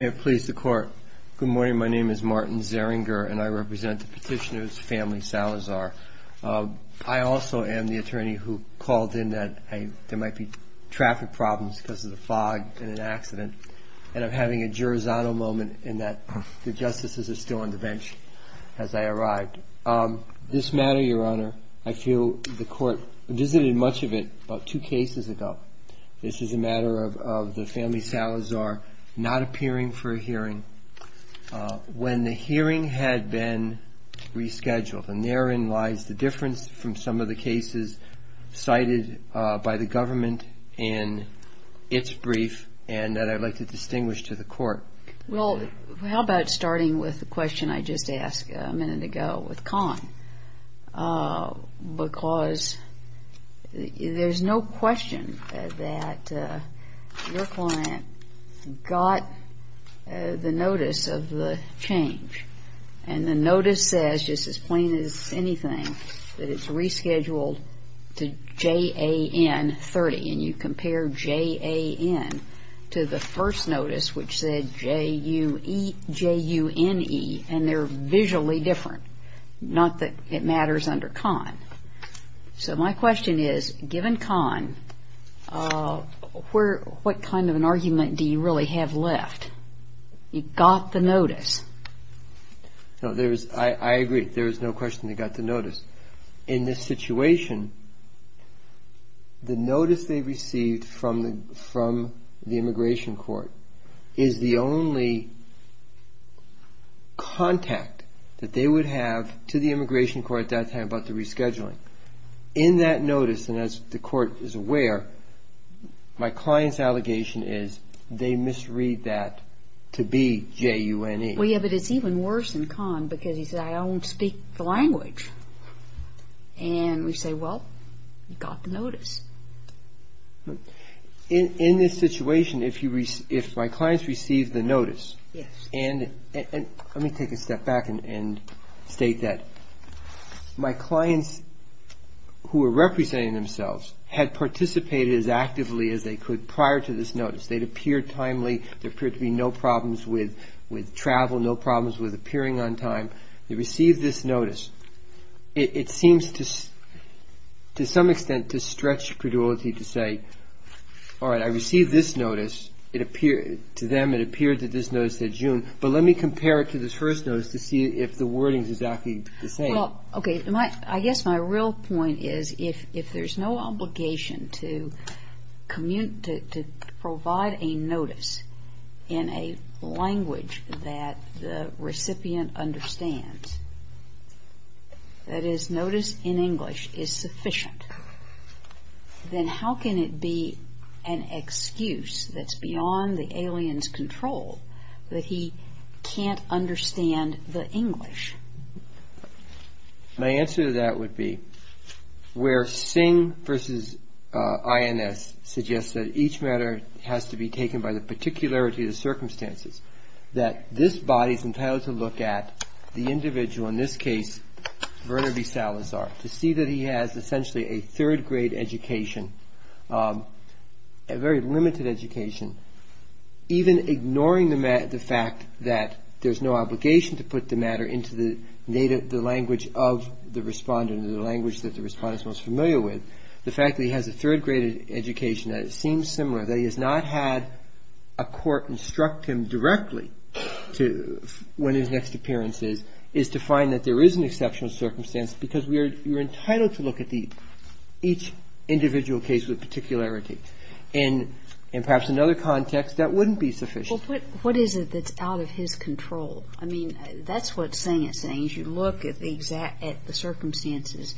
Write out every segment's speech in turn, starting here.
Good morning, my name is Martin Zeringer and I represent the petitioner's family, Salazar. I also am the attorney who called in that there might be traffic problems because of the fog in an accident, and I'm having a Girozzano moment in that the justices are still on the bench as I arrived. This matter, Your Honor, I feel the court visited much of it about two cases ago. This is a matter of the family Salazar not appearing for a hearing when the hearing had been rescheduled. And therein lies the difference from some of the cases cited by the government in its brief and that I'd like to distinguish to the court. Well, how about starting with the question I just asked a minute ago with Conn? Because there's no question that your client got the notice of the change, and the notice says, just as plain as anything, that it's rescheduled to JAN 30, and you compare JAN to the first notice, which said JUNE, and they're visually different, not that it matters under Conn. So my question is, given Conn, what kind of an argument do you really have left? You got the notice. No, I agree. There is no question they got the notice. In this situation, the notice they received from the immigration court is the only contact that they would have to the immigration court at that time about the rescheduling. In that notice, and as the court is aware, my client's allegation is they misread that to be JUNE. Well, yeah, but it's even worse than Conn, because he said, I don't speak the language. And we say, well, you got the notice. In this situation, if my clients received the notice, and let me take a step back and state that my clients who were representing themselves had participated as actively as they could prior to this notice. They'd appeared timely. There appeared to be no problems with travel, no problems with appearing on time. They received this notice. It seems to some extent to stretch credulity to say, all right, I received this notice. To them, it appeared that this notice said JUNE. But let me compare it to this first notice to see if the wording is exactly the same. Well, okay, I guess my real point is if there's no obligation to provide a notice in a language that the recipient understands, that is, notice in English is sufficient, then how can it be an excuse that's beyond the alien's control that he can't understand the English? My answer to that would be where Singh versus INS suggests that each matter has to be taken by the particularity of the circumstances, that this body is entitled to look at the individual, in this case, Werner B. Salazar, to see that he has essentially a third-grade education, a very limited education, even ignoring the fact that there's no obligation to put the matter into the language of the respondent or the language that the respondent is most familiar with. The fact that he has a third-grade education, that it seems similar, that he has not had a court instruct him directly when his next appearance is to find that there is an exceptional circumstance because you're entitled to look at each individual case with particularity. And perhaps in another context, that wouldn't be sufficient. Well, but what is it that's out of his control? I mean, that's what Singh is saying, is you look at the circumstances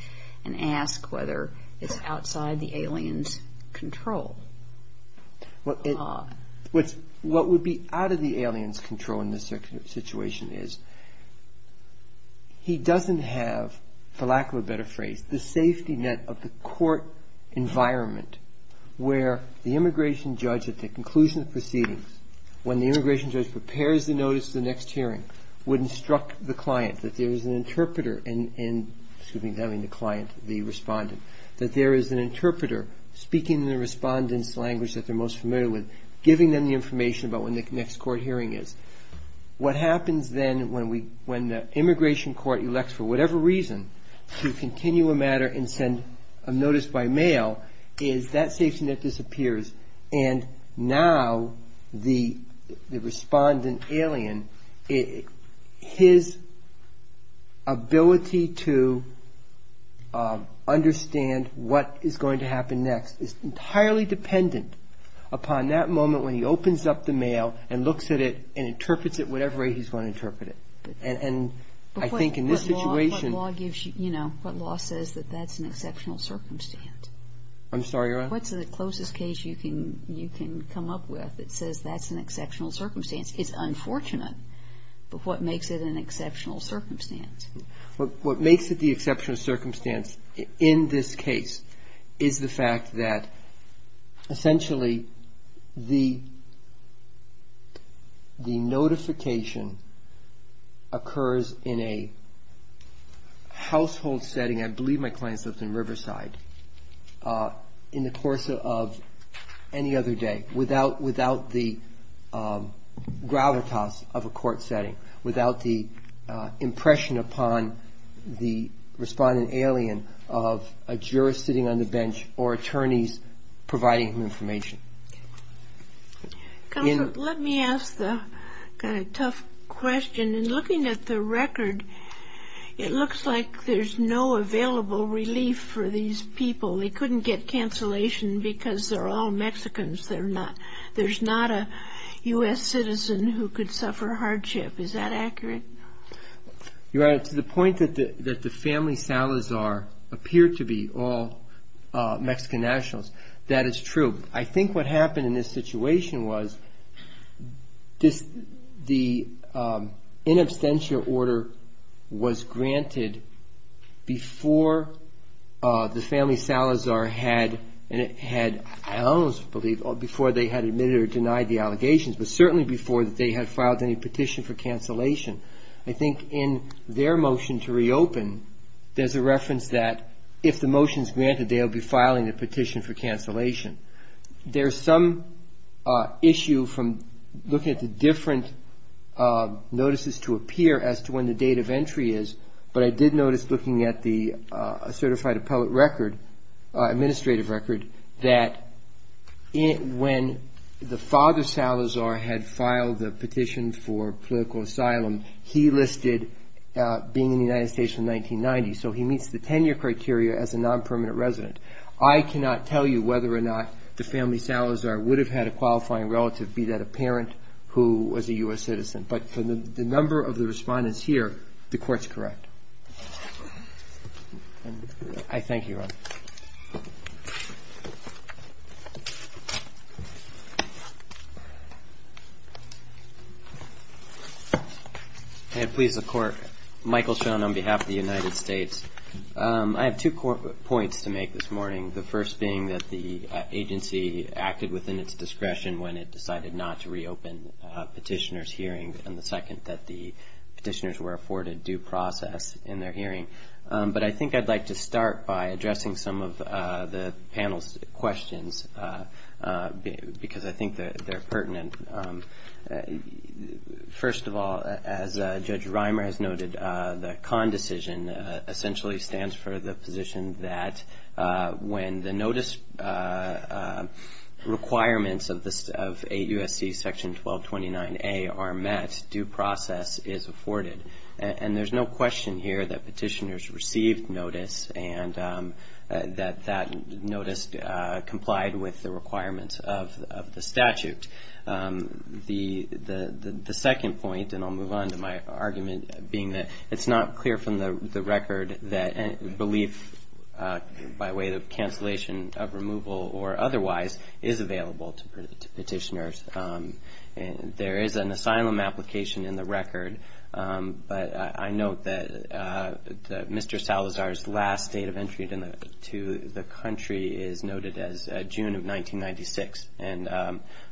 and ask whether it's outside the alien's control. Well, what would be out of the alien's control in this situation is he doesn't have, for lack of a better phrase, the safety net of the court environment where the immigration judge at the conclusion of proceedings, when the immigration judge prepares the notice for the next hearing, would instruct the client that there is an interpreter in, in this language that they're most familiar with, giving them the information about when the next court hearing is. What happens then when the immigration court elects, for whatever reason, to continue a matter and send a notice by mail is that safety net disappears and now the respondent alien, his ability to understand what is going to happen next is entirely dependent upon that moment when he opens up the mail and looks at it and interprets it whatever way he's going to interpret it. And I think in this situation. But what law gives you, you know, what law says that that's an exceptional circumstance? I'm sorry, Your Honor? What's the closest case you can come up with that says that's an exceptional circumstance? It's unfortunate, but what makes it an exceptional circumstance? What makes it the exceptional circumstance in this case is the fact that, essentially, the notification occurs in a household setting, I believe my client's lived in Riverside, in the course of any other day, without the gravitas of a court setting, without the impression upon the respondent alien of a juror sitting on the bench or attorneys providing him information. Counsel, let me ask the kind of tough question. In looking at the record, it looks like there's no available relief for these people. They couldn't get cancellation because they're all Mexicans. There's not a U.S. citizen who could suffer hardship. Is that accurate? Your Honor, to the point that the family Salazar appeared to be all Mexican nationals, that is true. I think what happened in this situation was the in absentia order was granted before the family Salazar had, I almost believe, before they had admitted or denied the allegations, but certainly before they had filed any petition for cancellation. I think in their motion to reopen, there's a reference that if the motion is granted, they'll be filing a petition for cancellation. There's some issue from looking at the different notices to appear as to when the date of entry is, but I did notice looking at the certified appellate record, administrative record, that when the father Salazar had filed the petition for political asylum, he listed being in the United States from 1990. So he meets the 10-year criteria as a non-permanent resident. I cannot tell you whether or not the family Salazar would have had a qualifying relative, be that a parent who was a U.S. citizen. But from the number of the respondents here, the court's correct. I thank you, Ron. And please, the court. Michael Schoen on behalf of the United States. I have two points to make this morning, the first being that the agency acted within its discretion when it decided not to reopen petitioners' hearings, and the second that the petitioners were afforded due process in their hearing. But I think I'd like to start by addressing some of the panel's questions because I think they're pertinent. First of all, as Judge Reimer has noted, the CON decision essentially stands for the position that when the notice requirements of 8 U.S.C. Section 1229A are met, due process is afforded. And there's no question here that petitioners received notice and that that notice complied with the requirements of the statute. The second point, and I'll move on to my argument, being that it's not clear from the record that belief by way of cancellation of removal or otherwise is available to petitioners. There is an asylum application in the record, but I note that Mr. Salazar's last date of entry to the country is noted as June of 1996. And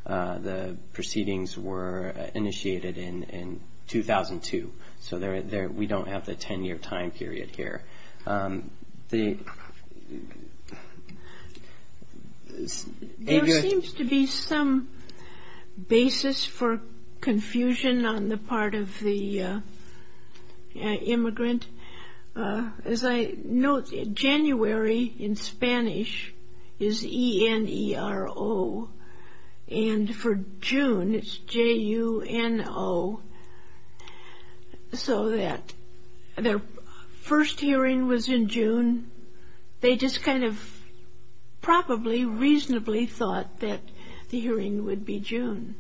the proceedings were initiated in 2002. So we don't have the 10-year time period here. There seems to be some basis for confusion on the part of the immigrant. As I note, January in Spanish is E-N-E-R-O. And for June, it's J-U-N-O. So that their first hearing was in June. They just kind of probably reasonably thought that the hearing would be June.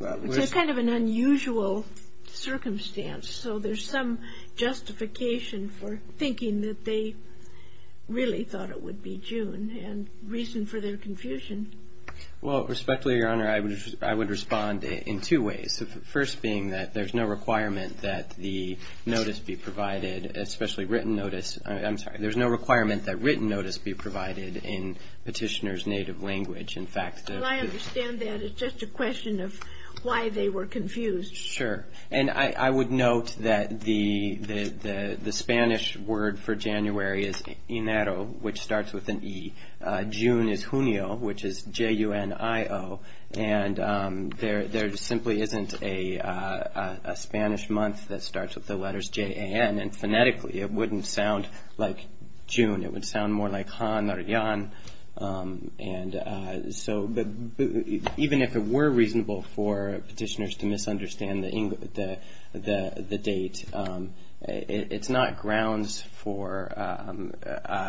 It's kind of an unusual circumstance. So there's some justification for thinking that they really thought it would be June and reason for their confusion. Well, respectfully, Your Honor, I would respond in two ways. The first being that there's no requirement that the notice be provided, especially written notice. I'm sorry. There's no requirement that written notice be provided in petitioners' native language. In fact, the ---- Well, I understand that. It's just a question of why they were confused. Sure. And I would note that the Spanish word for January is inero, which starts with an E. June is junio, which is J-U-N-I-O. And there simply isn't a Spanish month that starts with the letters J-A-N. And phonetically, it wouldn't sound like June. It would sound more like Han or Yan. And so even if it were reasonable for petitioners to misunderstand the date, it's not grounds for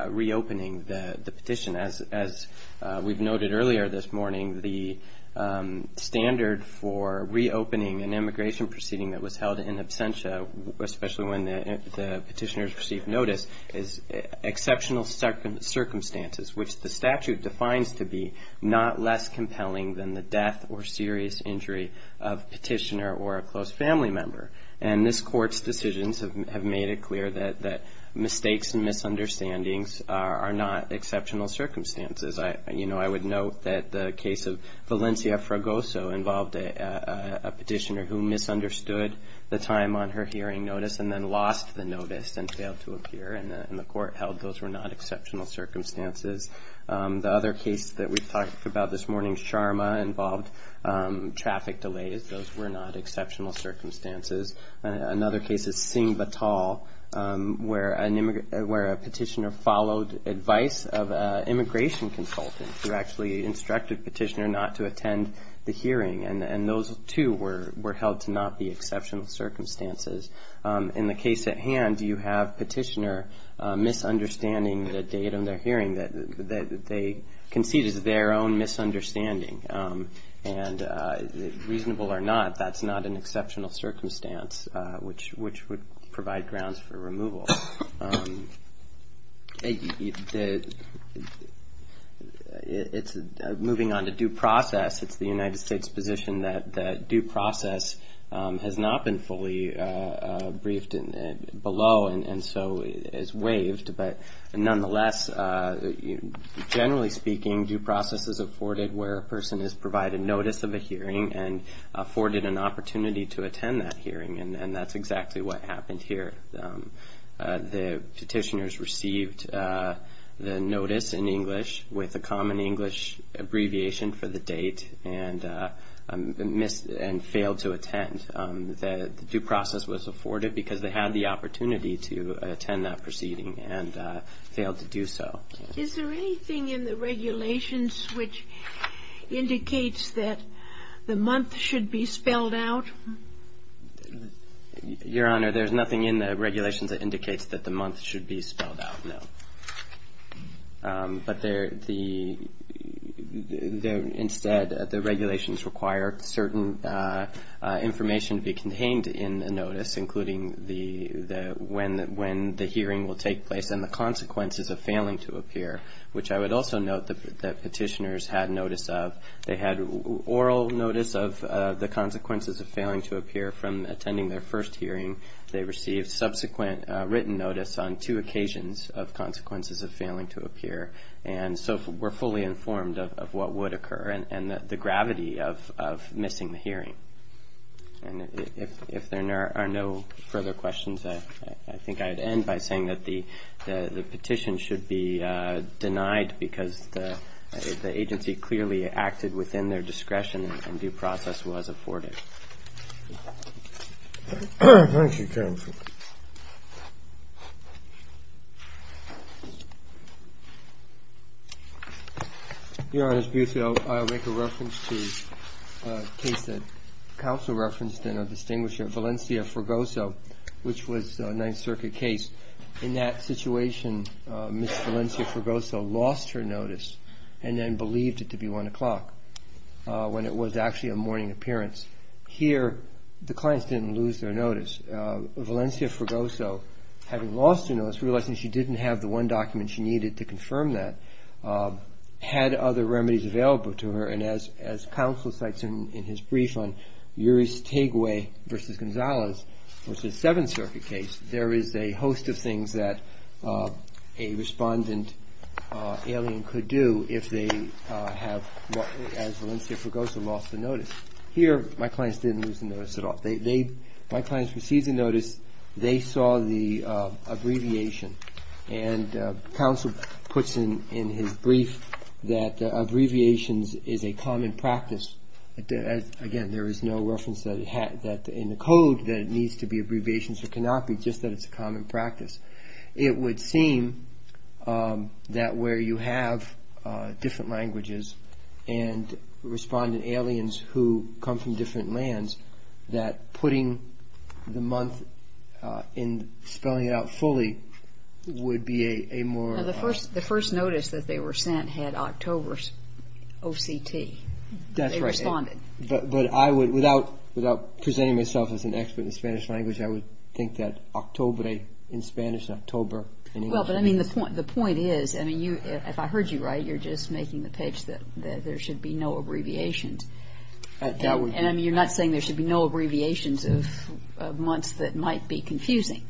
reopening the petition. As we've noted earlier this morning, the standard for reopening an immigration proceeding that was held in absentia, especially when the petitioners received notice, is exceptional circumstances, which the statute defines to be not less compelling than the death or serious injury of a petitioner or a close family member. And this Court's decisions have made it clear that mistakes and misunderstandings are not exceptional circumstances. You know, I would note that the case of Valencia Fragoso involved a petitioner who misunderstood the time on her hearing notice and then lost the notice and failed to appear, and the Court held those were not exceptional circumstances. The other case that we've talked about this morning, Sharma, involved traffic delays. Those were not exceptional circumstances. Another case is Singh Vatal, where a petitioner followed advice of an immigration consultant And those, too, were held to not be exceptional circumstances. In the case at hand, you have a petitioner misunderstanding the date on their hearing. They concede it's their own misunderstanding. And reasonable or not, that's not an exceptional circumstance, which would provide grounds for removal. It's moving on to due process. It's the United States' position that due process has not been fully briefed below and so is waived. But nonetheless, generally speaking, due process is afforded where a person is provided notice of a hearing and afforded an opportunity to attend that hearing, and that's exactly what happened here. The petitioners received the notice in English with a common English abbreviation for the date and missed and failed to attend. The due process was afforded because they had the opportunity to attend that proceeding and failed to do so. Is there anything in the regulations which indicates that the month should be spelled out? Your Honor, there's nothing in the regulations that indicates that the month should be spelled out, no. But instead, the regulations require certain information to be contained in the notice, including when the hearing will take place and the consequences of failing to appear, which I would also note that petitioners had notice of. They had oral notice of the consequences of failing to appear from attending their first hearing. They received subsequent written notice on two occasions of consequences of failing to appear, and so were fully informed of what would occur and the gravity of missing the hearing. And if there are no further questions, I think I'd end by saying that the petition should be denied because the agency clearly acted within their discretion and due process was afforded. Thank you, counsel. Your Honor, I'll make a reference to a case that counsel referenced in our distinguisher, Valencia Forgoso, which was a Ninth Circuit case. In that situation, Ms. Valencia Forgoso lost her notice and then believed it to be 1 o'clock when it was actually a morning appearance. Here, the clients didn't lose their notice. Valencia Forgoso, having lost her notice, realizing she didn't have the one document she needed to confirm that, had other remedies available to her, and as counsel cites in his brief on Uri's Tegway v. Gonzalez, which is a Seventh Circuit case, there is a host of things that a respondent alien could do if they have, as Valencia Forgoso, lost the notice. Here, my clients didn't lose the notice at all. My clients received the notice, they saw the abbreviation, and counsel puts in his brief that abbreviations is a common practice. Again, there is no reference in the code that it needs to be abbreviations. It cannot be just that it's a common practice. It would seem that where you have different languages and respondent aliens who come from different lands, that putting the month and spelling it out fully would be a more... The first notice that they were sent had October's OCT. That's right. They responded. But I would, without presenting myself as an expert in Spanish language, I would think that Octobre in Spanish and October in English would be... Well, but I mean, the point is, I mean, if I heard you right, you're just making the pitch that there should be no abbreviations. That would... And I mean, you're not saying there should be no abbreviations of months that might be confusing.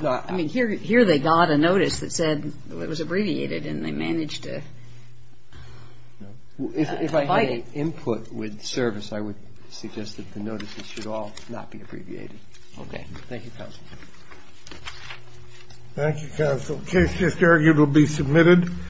I mean, here they got a notice that said it was abbreviated, and they managed to... If I had input with service, I would suggest that the notices should all not be abbreviated. Okay. Thank you, counsel. Thank you, counsel. Case just argued will be submitted.